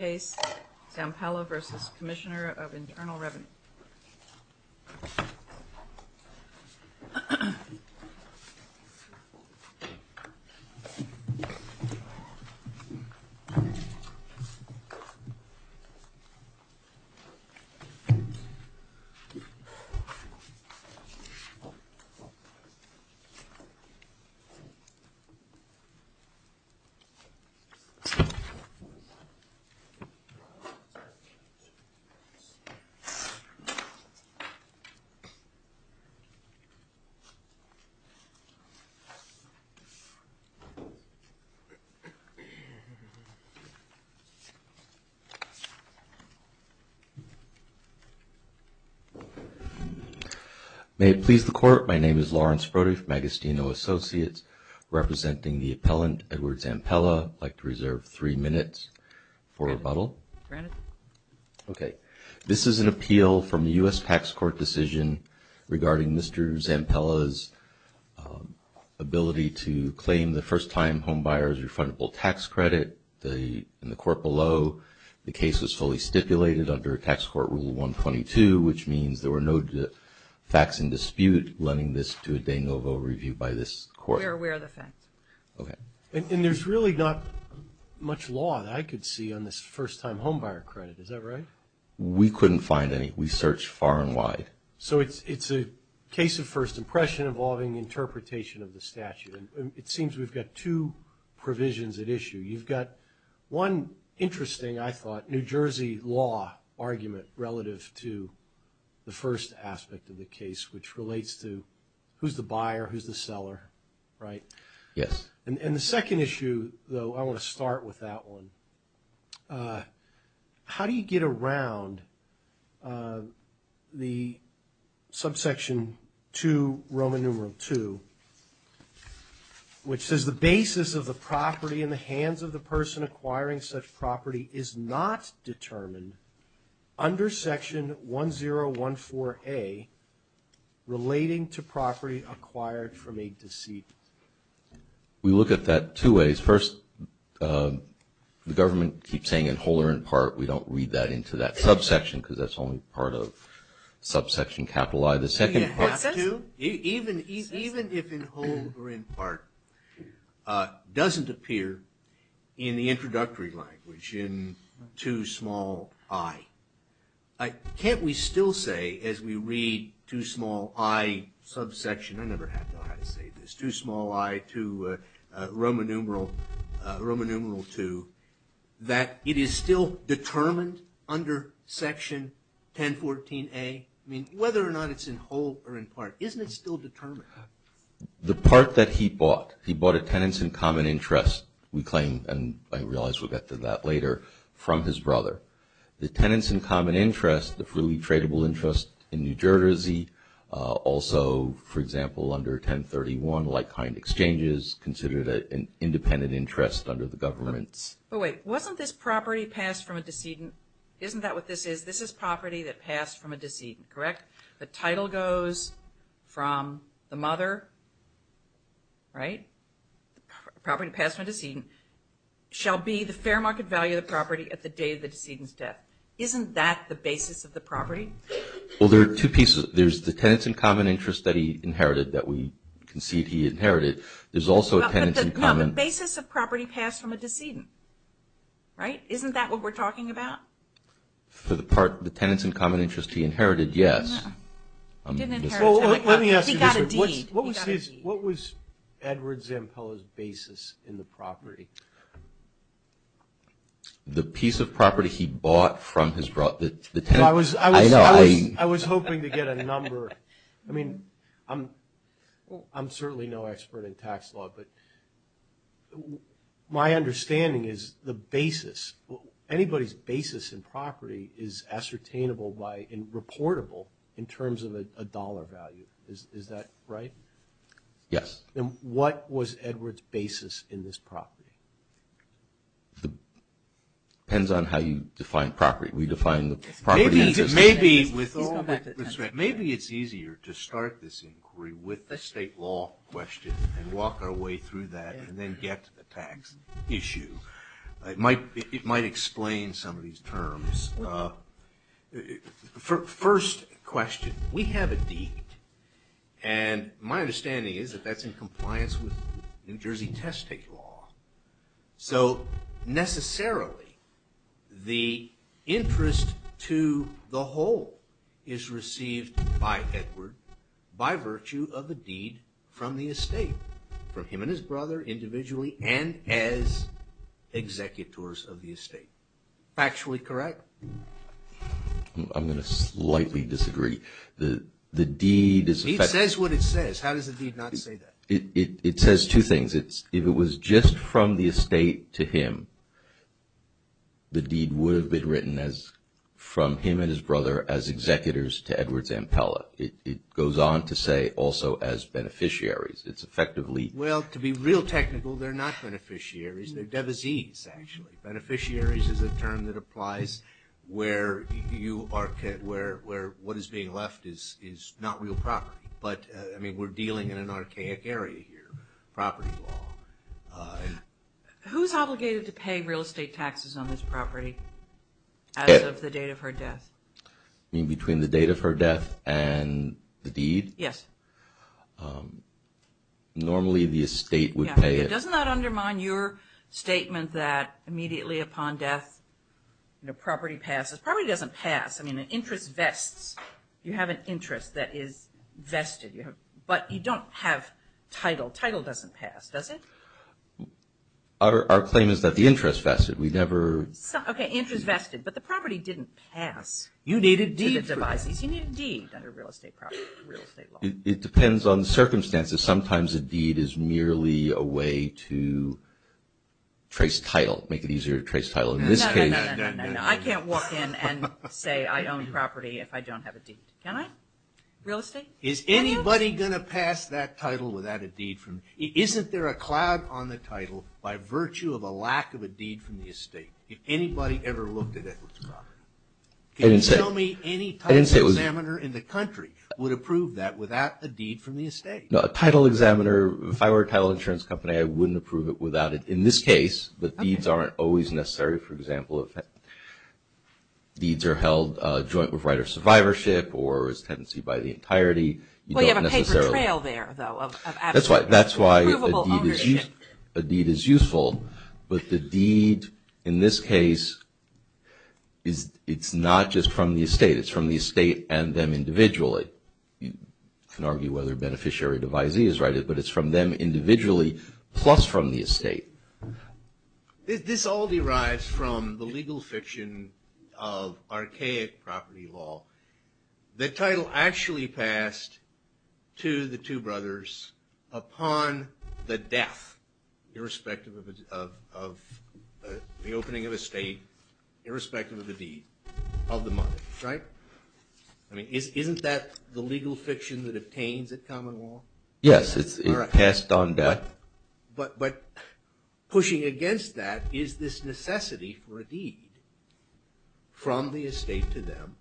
Zampella v. Commissioner of Internal Revenue May it please the Court, my name is Lawrence Brody from Agostino Associates, representing the appellant Edward Zampella. I'd like to reserve three minutes for rebuttal. Granted. Okay. This is an appeal from the U.S. Tax Court decision regarding Mr. Zampella's ability to claim the first-time homebuyer's refundable tax credit. In the court below, the case was fully stipulated under Tax Court Rule 122, which means there were no facts in dispute lending this to a de novo review by this Court. We're aware of the facts. Okay. And there's really not much law that I could see on this first-time homebuyer credit, is that right? We couldn't find any. We searched far and wide. So it's a case of first impression involving interpretation of the statute, and it seems we've got two provisions at issue. You've got one interesting, I thought, New Jersey law argument relative to the first aspect of the case, which relates to who's the buyer, right? Yes. And the second issue, though, I want to start with that one. How do you get around the Subsection 2, Roman numeral 2, which says the basis of the property in the hands of the person acquiring such property is not determined under Section 1014A relating to property acquired from a deceased? We look at that two ways. First, the government keeps saying in whole or in part. We don't read that into that subsection because that's only part of subsection capital I. The second part, too, even if in whole or in part, doesn't appear in the introductory language in 2 small i subsection, I never had to know how to say this, 2 small i to Roman numeral 2, that it is still determined under Section 1014A? I mean, whether or not it's in whole or in part, isn't it still determined? The part that he bought, he bought a tenants in common interest, we claim, and I realize we'll get to that later, from his brother. The tenants in common interest, the freely Also, for example, under 1031, like-kind exchanges considered an independent interest under the government's. But wait, wasn't this property passed from a decedent? Isn't that what this is? This is property that passed from a decedent, correct? The title goes from the mother, right? Property passed from a decedent shall be the fair market value of the property at the day of the decedent's death. Isn't that the basis of the property? Well, there are two pieces. There's the tenants in common interest that he inherited, that we concede he inherited. There's also a tenants in common No, the basis of property passed from a decedent, right? Isn't that what we're talking about? For the part, the tenants in common interest he inherited, yes. He didn't inherit. Well, let me ask you this. He got a deed. He got a deed. What was his, what was Edward Zampella's basis in the property? The piece of property he bought from his brother, the tenants I was hoping to get a number. I mean, I'm certainly no expert in tax law, but my understanding is the basis, anybody's basis in property is ascertainable by and reportable in terms of a dollar value. Is that right? Yes. And what was Edward's basis in this property? It depends on how you define property. We define the property in this case. Maybe it's easier to start this inquiry with the state law question and walk our way through that and then get to the tax issue. It might explain some of these terms. First question, we have a deed, and my understanding is that that's in compliance with New Jersey testic law. So necessarily, the interest to the whole is received by Edward by virtue of the deed from the estate, from him and his brother individually and as executors of the estate. Factually correct? I'm going to slightly disagree. The deed is... The deed says what it says. How does the deed not say that? It says two things. If it was just from the estate to him, the deed would have been written from him and his brother as executors to Edward Zampella. It goes on to say also as beneficiaries. It's effectively... Well, to be real technical, they're not beneficiaries. They're devisees, actually. Beneficiaries is a term that applies where what is being left is not real property. But we're dealing in an archaic area here, property law. Who's obligated to pay real estate taxes on this property as of the date of her death? Between the date of her death and the deed? Yes. Normally, the estate would pay it. Doesn't that undermine your statement that immediately upon death, the property passes? The property doesn't pass. I mean, an interest vests. You have an interest that is vested. But you don't have title. Title doesn't pass, does it? Our claim is that the interest vested. We never... Okay, interest vested. But the property didn't pass to the devisees. You need a deed. You need a deed under real estate property, real estate law. It depends on the circumstances. Sometimes a deed is merely a way to trace title, make it easier to trace title. No, no, no. I can't walk in and say I own property if I don't have a deed. Can I? Real estate? Is anybody going to pass that title without a deed? Isn't there a cloud on the title by virtue of a lack of a deed from the estate? If anybody ever looked at it. Can you tell me any title examiner in the country would approve that without a deed from the estate? No, a title examiner, if I were a title insurance company, I wouldn't approve it without it. In this case, the deeds aren't always necessary. For example, if deeds are held joint with right of survivorship or is tenancy by the entirety, you don't necessarily... Well, you have a paper trail there, though. That's why a deed is useful. But the deed in this case, it's not just from the estate. It's from the estate and them individually. You can argue whether beneficiary devisee is right, but it's from them individually plus from the estate. This all derives from the legal fiction of archaic property law. The title actually passed to the two brothers upon the death, irrespective of the opening of estate, irrespective of the deed, of the money. Isn't that the legal fiction that obtains at common law? Yes, it's passed on back. But pushing against that is this necessity for a deed from the estate to them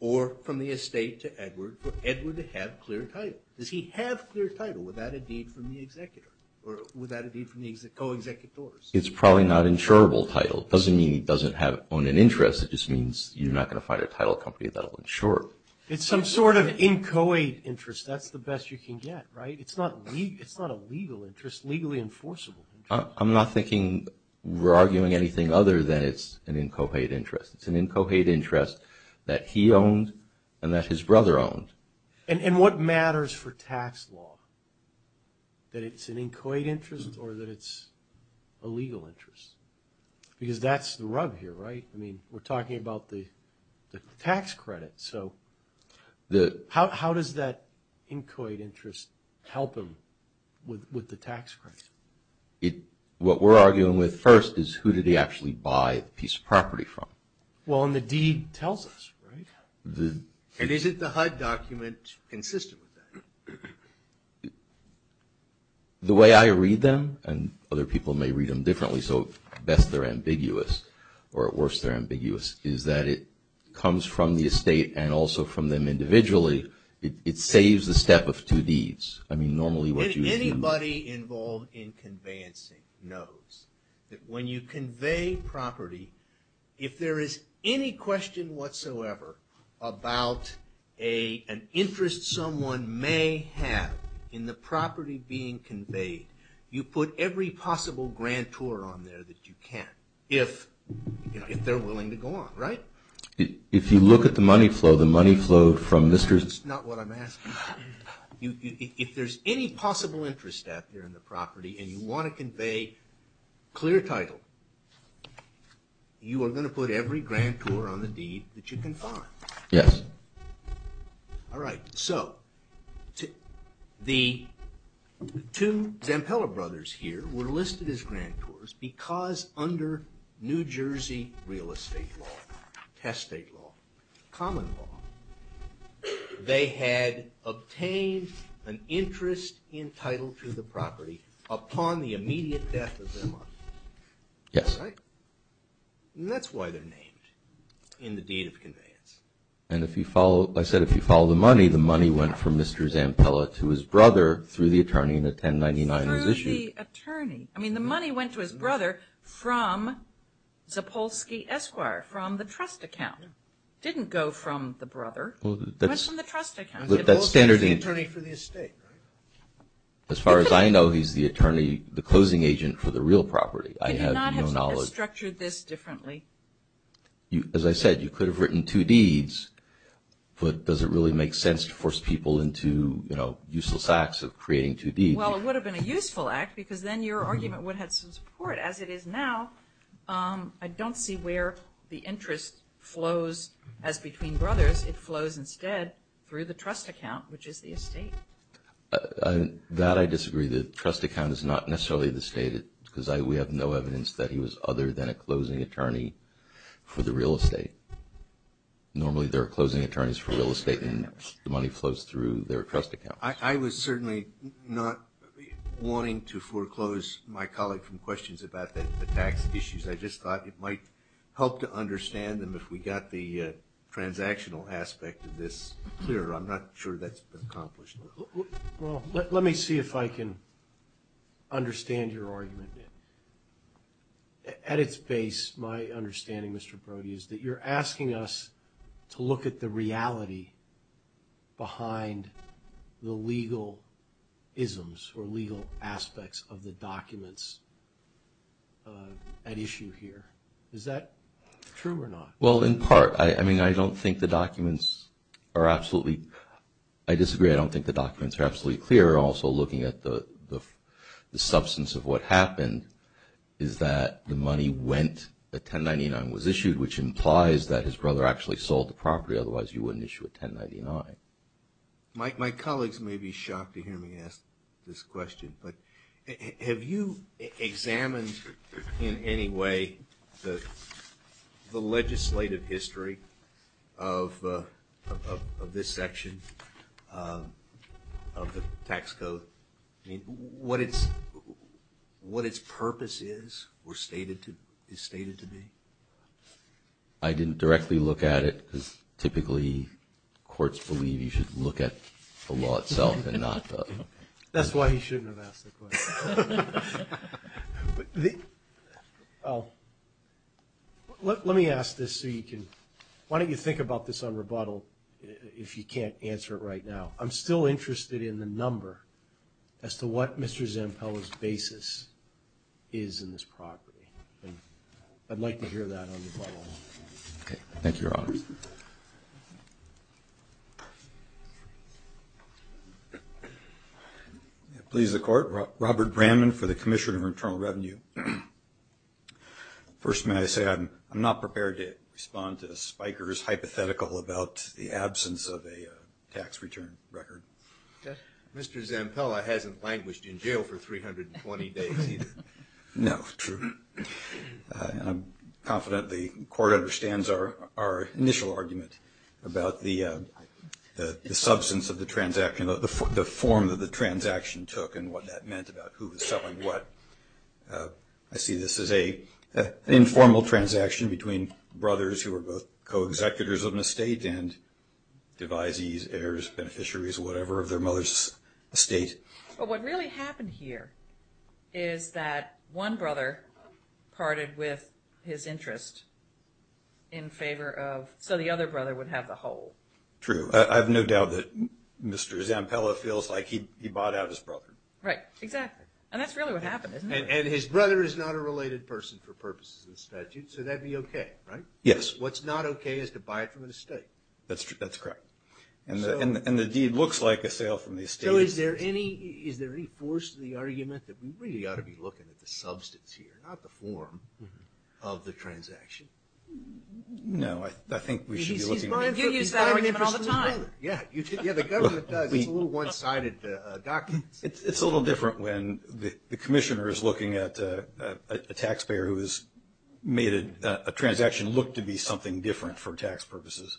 or from the estate to Edward for Edward to have clear title. Does he have clear title without a deed from the executor or without a deed from the co-executor? It's probably not insurable title. It doesn't mean he doesn't own an interest. It just means you're not going to find a title company that will insure it. It's some sort of inchoate interest. That's the best you can get, right? It's not a legal interest, legally enforceable interest. I'm not thinking we're arguing anything other than it's an inchoate interest. It's an inchoate interest that he owned and that his brother owned. And what matters for tax law, that it's an inchoate interest or that it's a legal interest? Because that's the rub here, right? I mean, we're talking about the tax credit. So how does that inchoate interest help him with the tax credit? What we're arguing with first is who did he actually buy the piece of property from? Well, and the deed tells us, right? And isn't the HUD document consistent with that? The way I read them, and other people may read them differently, so at best they're ambiguous or at worst they're ambiguous, is that it comes from the estate and also from them individually. It saves the step of two deeds. I mean, normally what you would do… Anybody involved in conveyancing knows that when you convey property, if there is any question whatsoever about an interest someone may have in the property being conveyed, you put every possible grantor on there that you can if they're willing to go on, right? If you look at the money flow, the money flow from Mr.… If there's any possible interest out there in the property and you want to convey clear title, you are going to put every grantor on the deed that you can find. Yes. All right. So the two Zampella brothers here were listed as grantors because under New Jersey real estate law, past state law, common law, they had obtained an interest in title to the property upon the immediate death of their mother. Yes. All right. And that's why they're named in the deed of conveyance. And if you follow, I said if you follow the money, the money went from Mr. Zampella to his brother through the attorney and a 1099 was issued. Through the attorney. I mean, the money went to his brother from Zapolsky Esquire, from the trust account. It didn't go from the brother. It went from the trust account. The attorney for the estate, right? As far as I know, he's the attorney, the closing agent for the real property. I have no knowledge. Could you not have structured this differently? As I said, you could have written two deeds, but does it really make sense to force people into, you know, useless acts of creating two deeds? Well, it would have been a useful act because then your argument would have had some support. As it is now, I don't see where the interest flows as between brothers. It flows instead through the trust account, which is the estate. That I disagree. The trust account is not necessarily the estate because we have no evidence that he was other than a closing attorney for the real estate. Normally there are closing attorneys for real estate and the money flows through their trust account. I was certainly not wanting to foreclose my colleague from questions about the tax issues. I just thought it might help to understand them if we got the transactional aspect of this clearer. I'm not sure that's been accomplished. Well, let me see if I can understand your argument. At its base, my understanding, Mr. Brody, is that you're asking us to look at the reality behind the legal isms or legal aspects of the documents at issue here. Is that true or not? Well, in part. I mean, I don't think the documents are absolutely – I disagree. I don't think the documents are absolutely clear. Also, looking at the substance of what happened is that the money went – the 1099 was issued, which implies that his brother actually sold the property. Otherwise, you wouldn't issue a 1099. My colleagues may be shocked to hear me ask this question, but have you examined in any way the legislative history of this section of the tax code? I mean, what its purpose is or is stated to be? I didn't directly look at it because typically courts believe you should look at the law itself and not the – That's why he shouldn't have asked the question. Let me ask this so you can – why don't you think about this on rebuttal if you can't answer it right now. I'm still interested in the number as to what Mr. Zampella's basis is in this property. I'd like to hear that on rebuttal. Okay. Thank you, Your Honor. Please, the Court. Robert Bramman for the Commissioner of Internal Revenue. First, may I say I'm not prepared to respond to Spiker's hypothetical about the absence of a tax return record. Mr. Zampella hasn't languished in jail for 320 days either. No, true. And I'm confident the Court understands our initial argument about the substance of the transaction, the form that the transaction took and what that meant about who was selling what. I see this as an informal transaction between brothers who are both co-executors of an estate and devisees, heirs, beneficiaries, whatever, of their mother's estate. But what really happened here is that one brother parted with his interest in favor of – so the other brother would have the whole. True. I have no doubt that Mr. Zampella feels like he bought out his brother. Right. Exactly. And that's really what happened, isn't it? And his brother is not a related person for purposes of the statute, so that would be okay, right? Yes. What's not okay is to buy it from an estate. That's correct. And the deed looks like a sale from the estate. So is there any force to the argument that we really ought to be looking at the substance here, not the form, of the transaction? No, I think we should be looking at – You use that argument all the time. Yeah, the government does. It's a little one-sided documents. It's a little different when the commissioner is looking at a taxpayer who has made a transaction look to be something different for tax purposes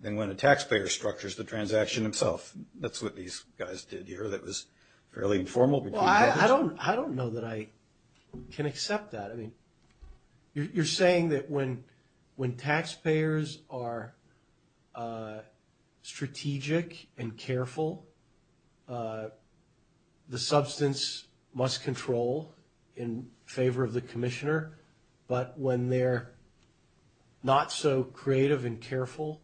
than when a taxpayer structures the transaction himself. That's what these guys did here that was fairly informal. Well, I don't know that I can accept that. I mean, you're saying that when taxpayers are strategic and careful, the substance must control in favor of the commissioner, but when they're not so creative and careful,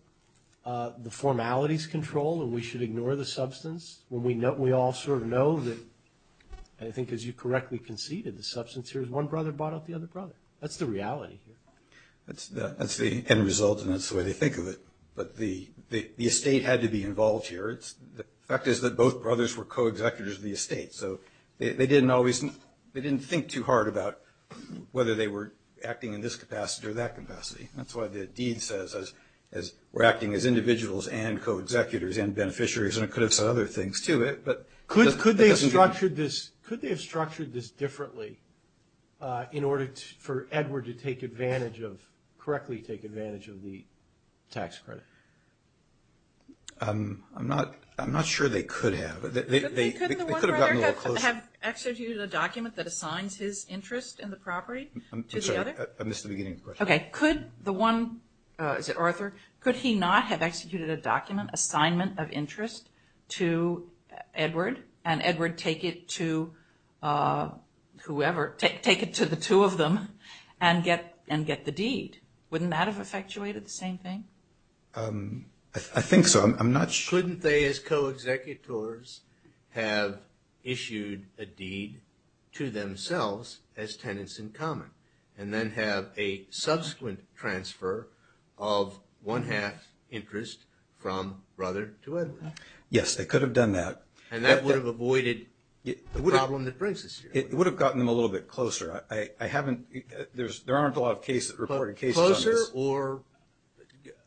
the formalities control and we should ignore the substance when we all sort of know that, and I think as you correctly conceded, the substance here is one brother bought out the other brother. That's the reality here. That's the end result, and that's the way they think of it. But the estate had to be involved here. The fact is that both brothers were co-executives of the estate, so they didn't think too hard about whether they were acting in this capacity or that capacity. That's why the deed says we're acting as individuals and co-executives and beneficiaries, and it could have said other things, too. Could they have structured this differently in order for Edward to take advantage of, correctly take advantage of the tax credit? I'm not sure they could have. Could the one brother have executed a document that assigns his interest in the property to the other? I'm sorry, I missed the beginning of the question. Okay. Could the one, is it Arthur? Could he not have executed a document assignment of interest to Edward, and Edward take it to whoever, take it to the two of them and get the deed? Wouldn't that have effectuated the same thing? I think so. I'm not sure. Couldn't they as co-executors have issued a deed to themselves as tenants in common and then have a subsequent transfer of one-half interest from brother to Edward? Yes, they could have done that. And that would have avoided the problem that brings us here. It would have gotten them a little bit closer. I haven't, there aren't a lot of cases, reported cases on this. Closer or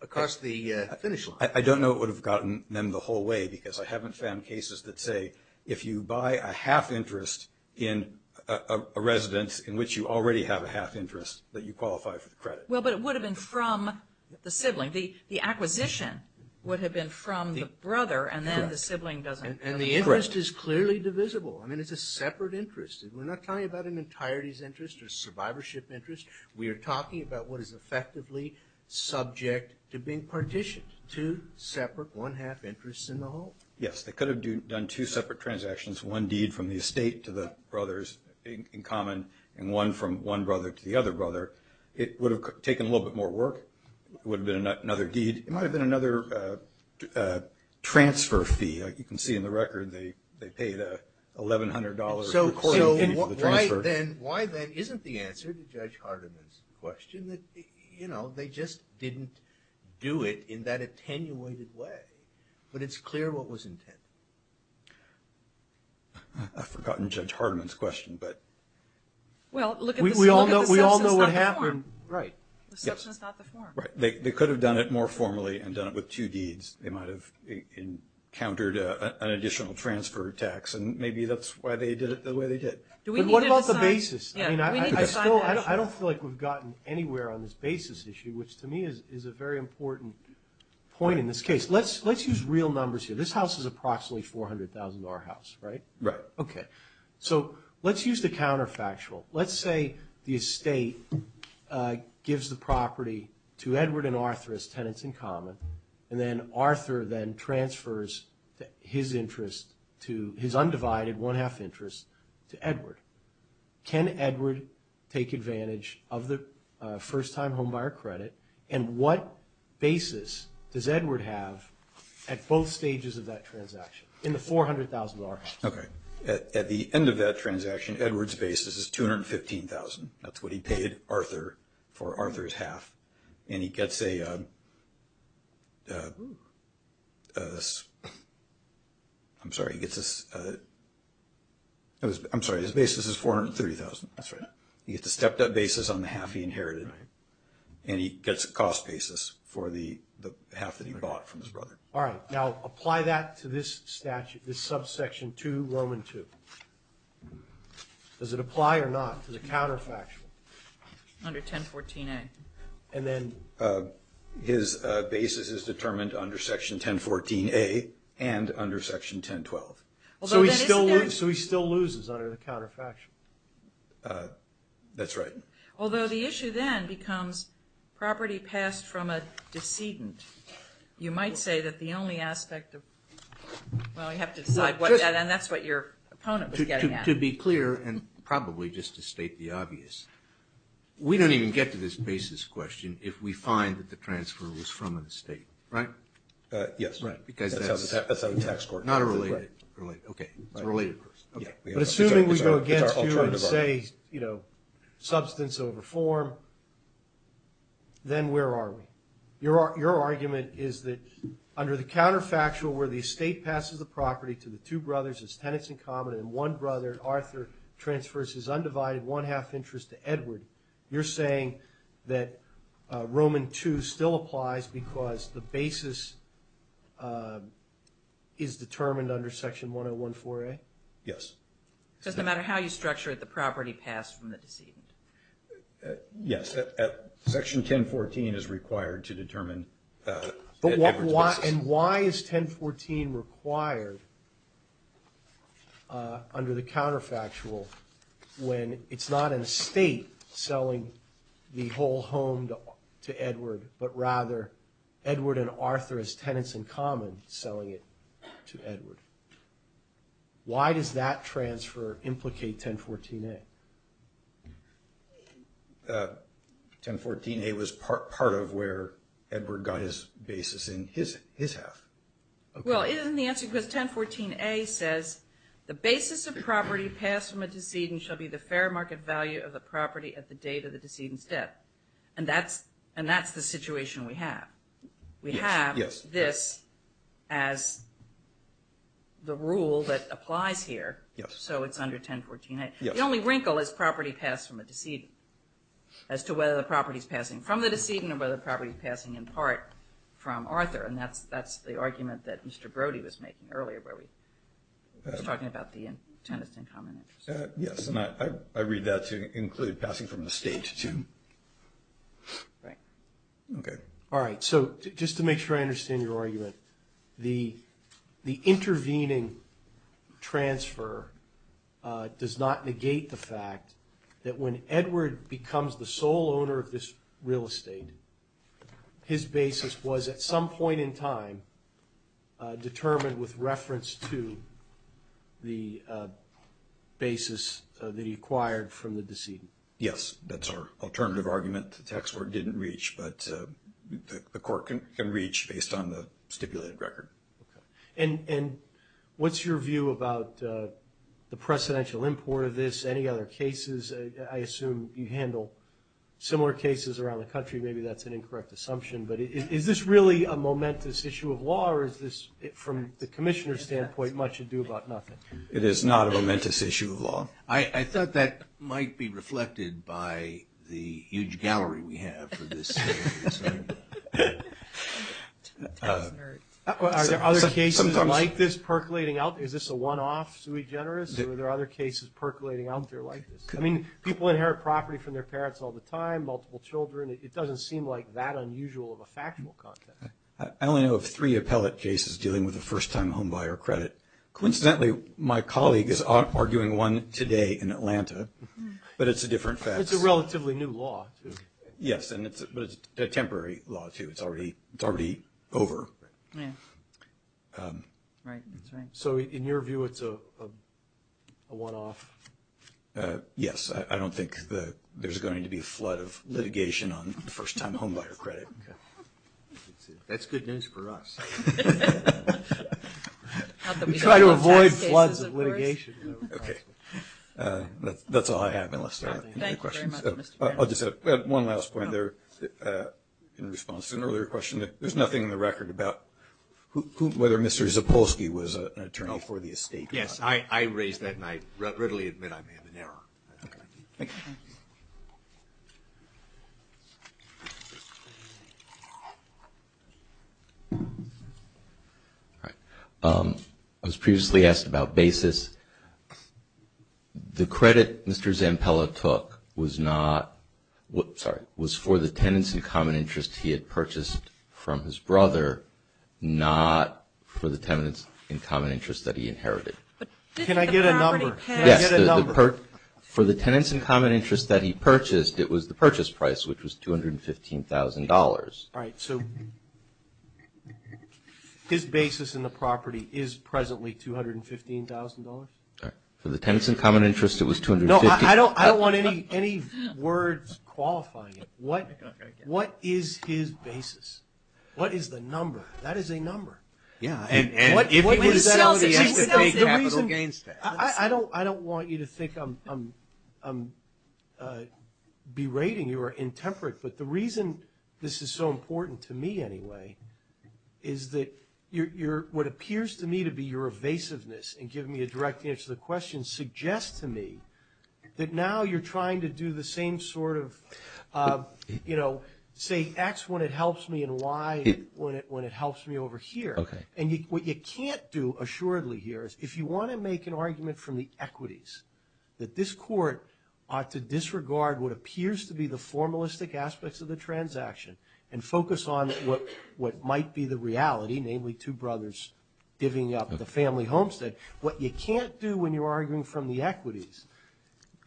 across the finish line? I don't know it would have gotten them the whole way because I haven't found cases that say if you buy a half interest in a residence in which you already have a half interest that you qualify for the credit. Well, but it would have been from the sibling. The acquisition would have been from the brother and then the sibling doesn't. And the interest is clearly divisible. I mean, it's a separate interest. We're not talking about an entirety's interest or survivorship interest. We are talking about what is effectively subject to being partitioned, two separate one-half interests in the whole. Yes, they could have done two separate transactions, one deed from the estate to the brothers in common and one from one brother to the other brother. It would have taken a little bit more work. It would have been another deed. It might have been another transfer fee. You can see in the record they paid $1,100 per quarter fee for the transfer. So why then isn't the answer to Judge Hardiman's question that, you know, they just didn't do it in that attenuated way. But it's clear what was intended. I've forgotten Judge Hardiman's question, but we all know what happened. Well, look at the substance, not the form. Right. The substance, not the form. They could have done it more formally and done it with two deeds. They might have countered an additional transfer tax and maybe that's why they did it the way they did. But what about the basis? I mean, I don't feel like we've gotten anywhere on this basis issue, which to me is a very important point in this case. Let's use real numbers here. This house is approximately $400,000, right? Right. Okay. So let's use the counterfactual. Let's say the estate gives the property to Edward and Arthur as tenants in common and then Arthur then transfers his interest to his undivided one-half interest to Edward. Can Edward take advantage of the first-time homebuyer credit and what basis does Edward have at both stages of that transaction in the $400,000? Okay. At the end of that transaction, Edward's basis is $215,000. That's what he paid Arthur for Arthur's half. And he gets a—I'm sorry, he gets a—I'm sorry, his basis is $430,000. That's right. He gets a stepped-up basis on the half he inherited. Right. And he gets a cost basis for the half that he bought from his brother. All right. Now apply that to this statute, this subsection 2, Roman 2. Does it apply or not to the counterfactual? Under 1014A. And then his basis is determined under Section 1014A and under Section 1012. Although that is— So he still loses under the counterfactual. That's right. Although the issue then becomes property passed from a decedent. You might say that the only aspect of—well, you have to decide what that— and that's what your opponent was getting at. To be clear, and probably just to state the obvious, we don't even get to this basis question if we find that the transfer was from an estate, right? Yes. Right. Because that's— That's out of the tax court. Not a related—okay. It's a related question. But assuming we go against you and say, you know, substance over form, then where are we? Your argument is that under the counterfactual, where the estate passes the property to the two brothers as tenants in common and one brother, Arthur, transfers his undivided one-half interest to Edward, you're saying that Roman 2 still applies because the basis is determined under Section 1014A? Yes. Just no matter how you structure it, the property passed from the decedent? Yes. Section 1014 is required to determine Edward's— And why is 1014 required under the counterfactual when it's not an estate selling the whole home to Edward but rather Edward and Arthur as tenants in common selling it to Edward? Why does that transfer implicate 1014A? 1014A was part of where Edward got his basis in his half. Well, isn't the answer because 1014A says, the basis of property passed from a decedent shall be the fair market value of the property at the date of the decedent's death. And that's the situation we have. We have this as the rule that applies here. Yes. So it's under 1014A. The only wrinkle is property passed from a decedent, as to whether the property is passing from the decedent or whether the property is passing in part from Arthur. And that's the argument that Mr. Brody was making earlier where he was talking about the tenants in common interest. Yes, and I read that to include passing from the estate too. Right. Okay. All right, so just to make sure I understand your argument, the intervening transfer does not negate the fact that when Edward becomes the sole owner of this real estate, his basis was at some point in time determined with reference to the basis that he acquired from the decedent. Yes, that's our alternative argument. The tax court didn't reach, but the court can reach based on the stipulated record. And what's your view about the precedential import of this? Any other cases? I assume you handle similar cases around the country. Maybe that's an incorrect assumption. But is this really a momentous issue of law, or is this, from the commissioner's standpoint, much ado about nothing? It is not a momentous issue of law. I thought that might be reflected by the huge gallery we have for this. Are there other cases like this percolating out? Is this a one-off sui generis, or are there other cases percolating out there like this? I mean, people inherit property from their parents all the time, multiple children. It doesn't seem like that unusual of a factual context. I only know of three appellate cases dealing with a first-time homebuyer credit. Coincidentally, my colleague is arguing one today in Atlanta, but it's a different fact. It's a relatively new law, too. Yes, but it's a temporary law, too. It's already over. So in your view, it's a one-off? Yes. I don't think there's going to be a flood of litigation on first-time homebuyer credit. That's good news for us. We try to avoid floods of litigation. Okay. That's all I have, unless there are any questions. I'll just add one last point there in response to an earlier question. There's nothing in the record about whether Mr. Zapolsky was an attorney for the estate. Yes, I raised that, and I readily admit I made an error. Thank you. I was previously asked about basis. The credit Mr. Zampella took was for the tenants in common interest he had purchased from his brother, not for the tenants in common interest that he inherited. Can I get a number? Yes, for the tenants in common interest that he purchased, it was the purchase price, which was $215,000. All right, so his basis in the property is presently $215,000? For the tenants in common interest, it was $215,000. No, I don't want any words qualifying it. What is his basis? What is the number? That is a number. I don't want you to think I'm berating you or intemperate, but the reason this is so important to me anyway is that what appears to me to be your evasiveness in giving me a direct answer to the question suggests to me that now you're trying to do the same sort of, you know, say X when it helps me and Y when it helps me over here. Okay. And what you can't do assuredly here is if you want to make an argument from the equities that this court ought to disregard what appears to be the formalistic aspects of the transaction and focus on what might be the reality, namely two brothers giving up the family homestead, what you can't do when you're arguing from the equities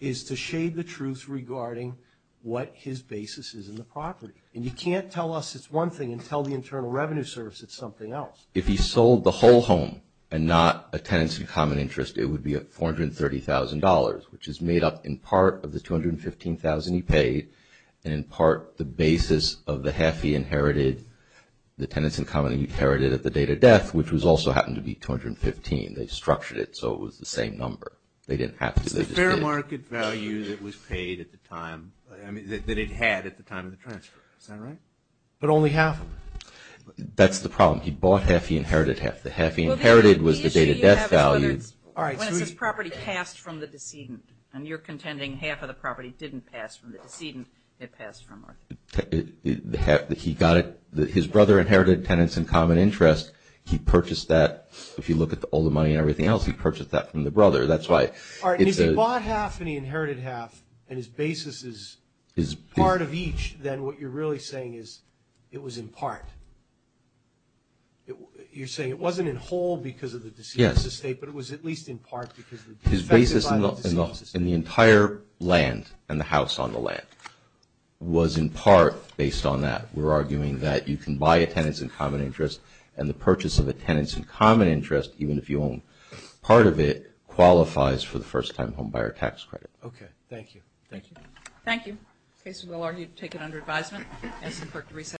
is to shade the truth regarding what his basis is in the property. And you can't tell us it's one thing and tell the Internal Revenue Service it's something else. If he sold the whole home and not a Tenants in Common Interest, it would be $430,000, which is made up in part of the $215,000 he paid, and in part the basis of the half he inherited, the Tenants in Common that he inherited at the date of death, which also happened to be $215,000. They structured it so it was the same number. It's the fair market value that was paid at the time, I mean that it had at the time of the transfer. Is that right? But only half of it. That's the problem. He bought half, he inherited half. The half he inherited was the date of death value. When it says property passed from the decedent, and you're contending half of the property didn't pass from the decedent, it passed from him. He got it, his brother inherited Tenants in Common Interest, he purchased that, if you look at all the money and everything else, he purchased that from the brother. If he bought half and he inherited half, and his basis is part of each, then what you're really saying is it was in part. You're saying it wasn't in whole because of the decedent's estate, but it was at least in part because of the defective title of the decedent's estate. His basis in the entire land and the house on the land was in part based on that. We're arguing that you can buy a Tenants in Common Interest and the purchase of a Tenants in Common Interest, even if you own part of it, qualifies for the first-time homebuyer tax credit. Okay, thank you. Thank you. Thank you. Okay, so we'll argue to take it under advisement.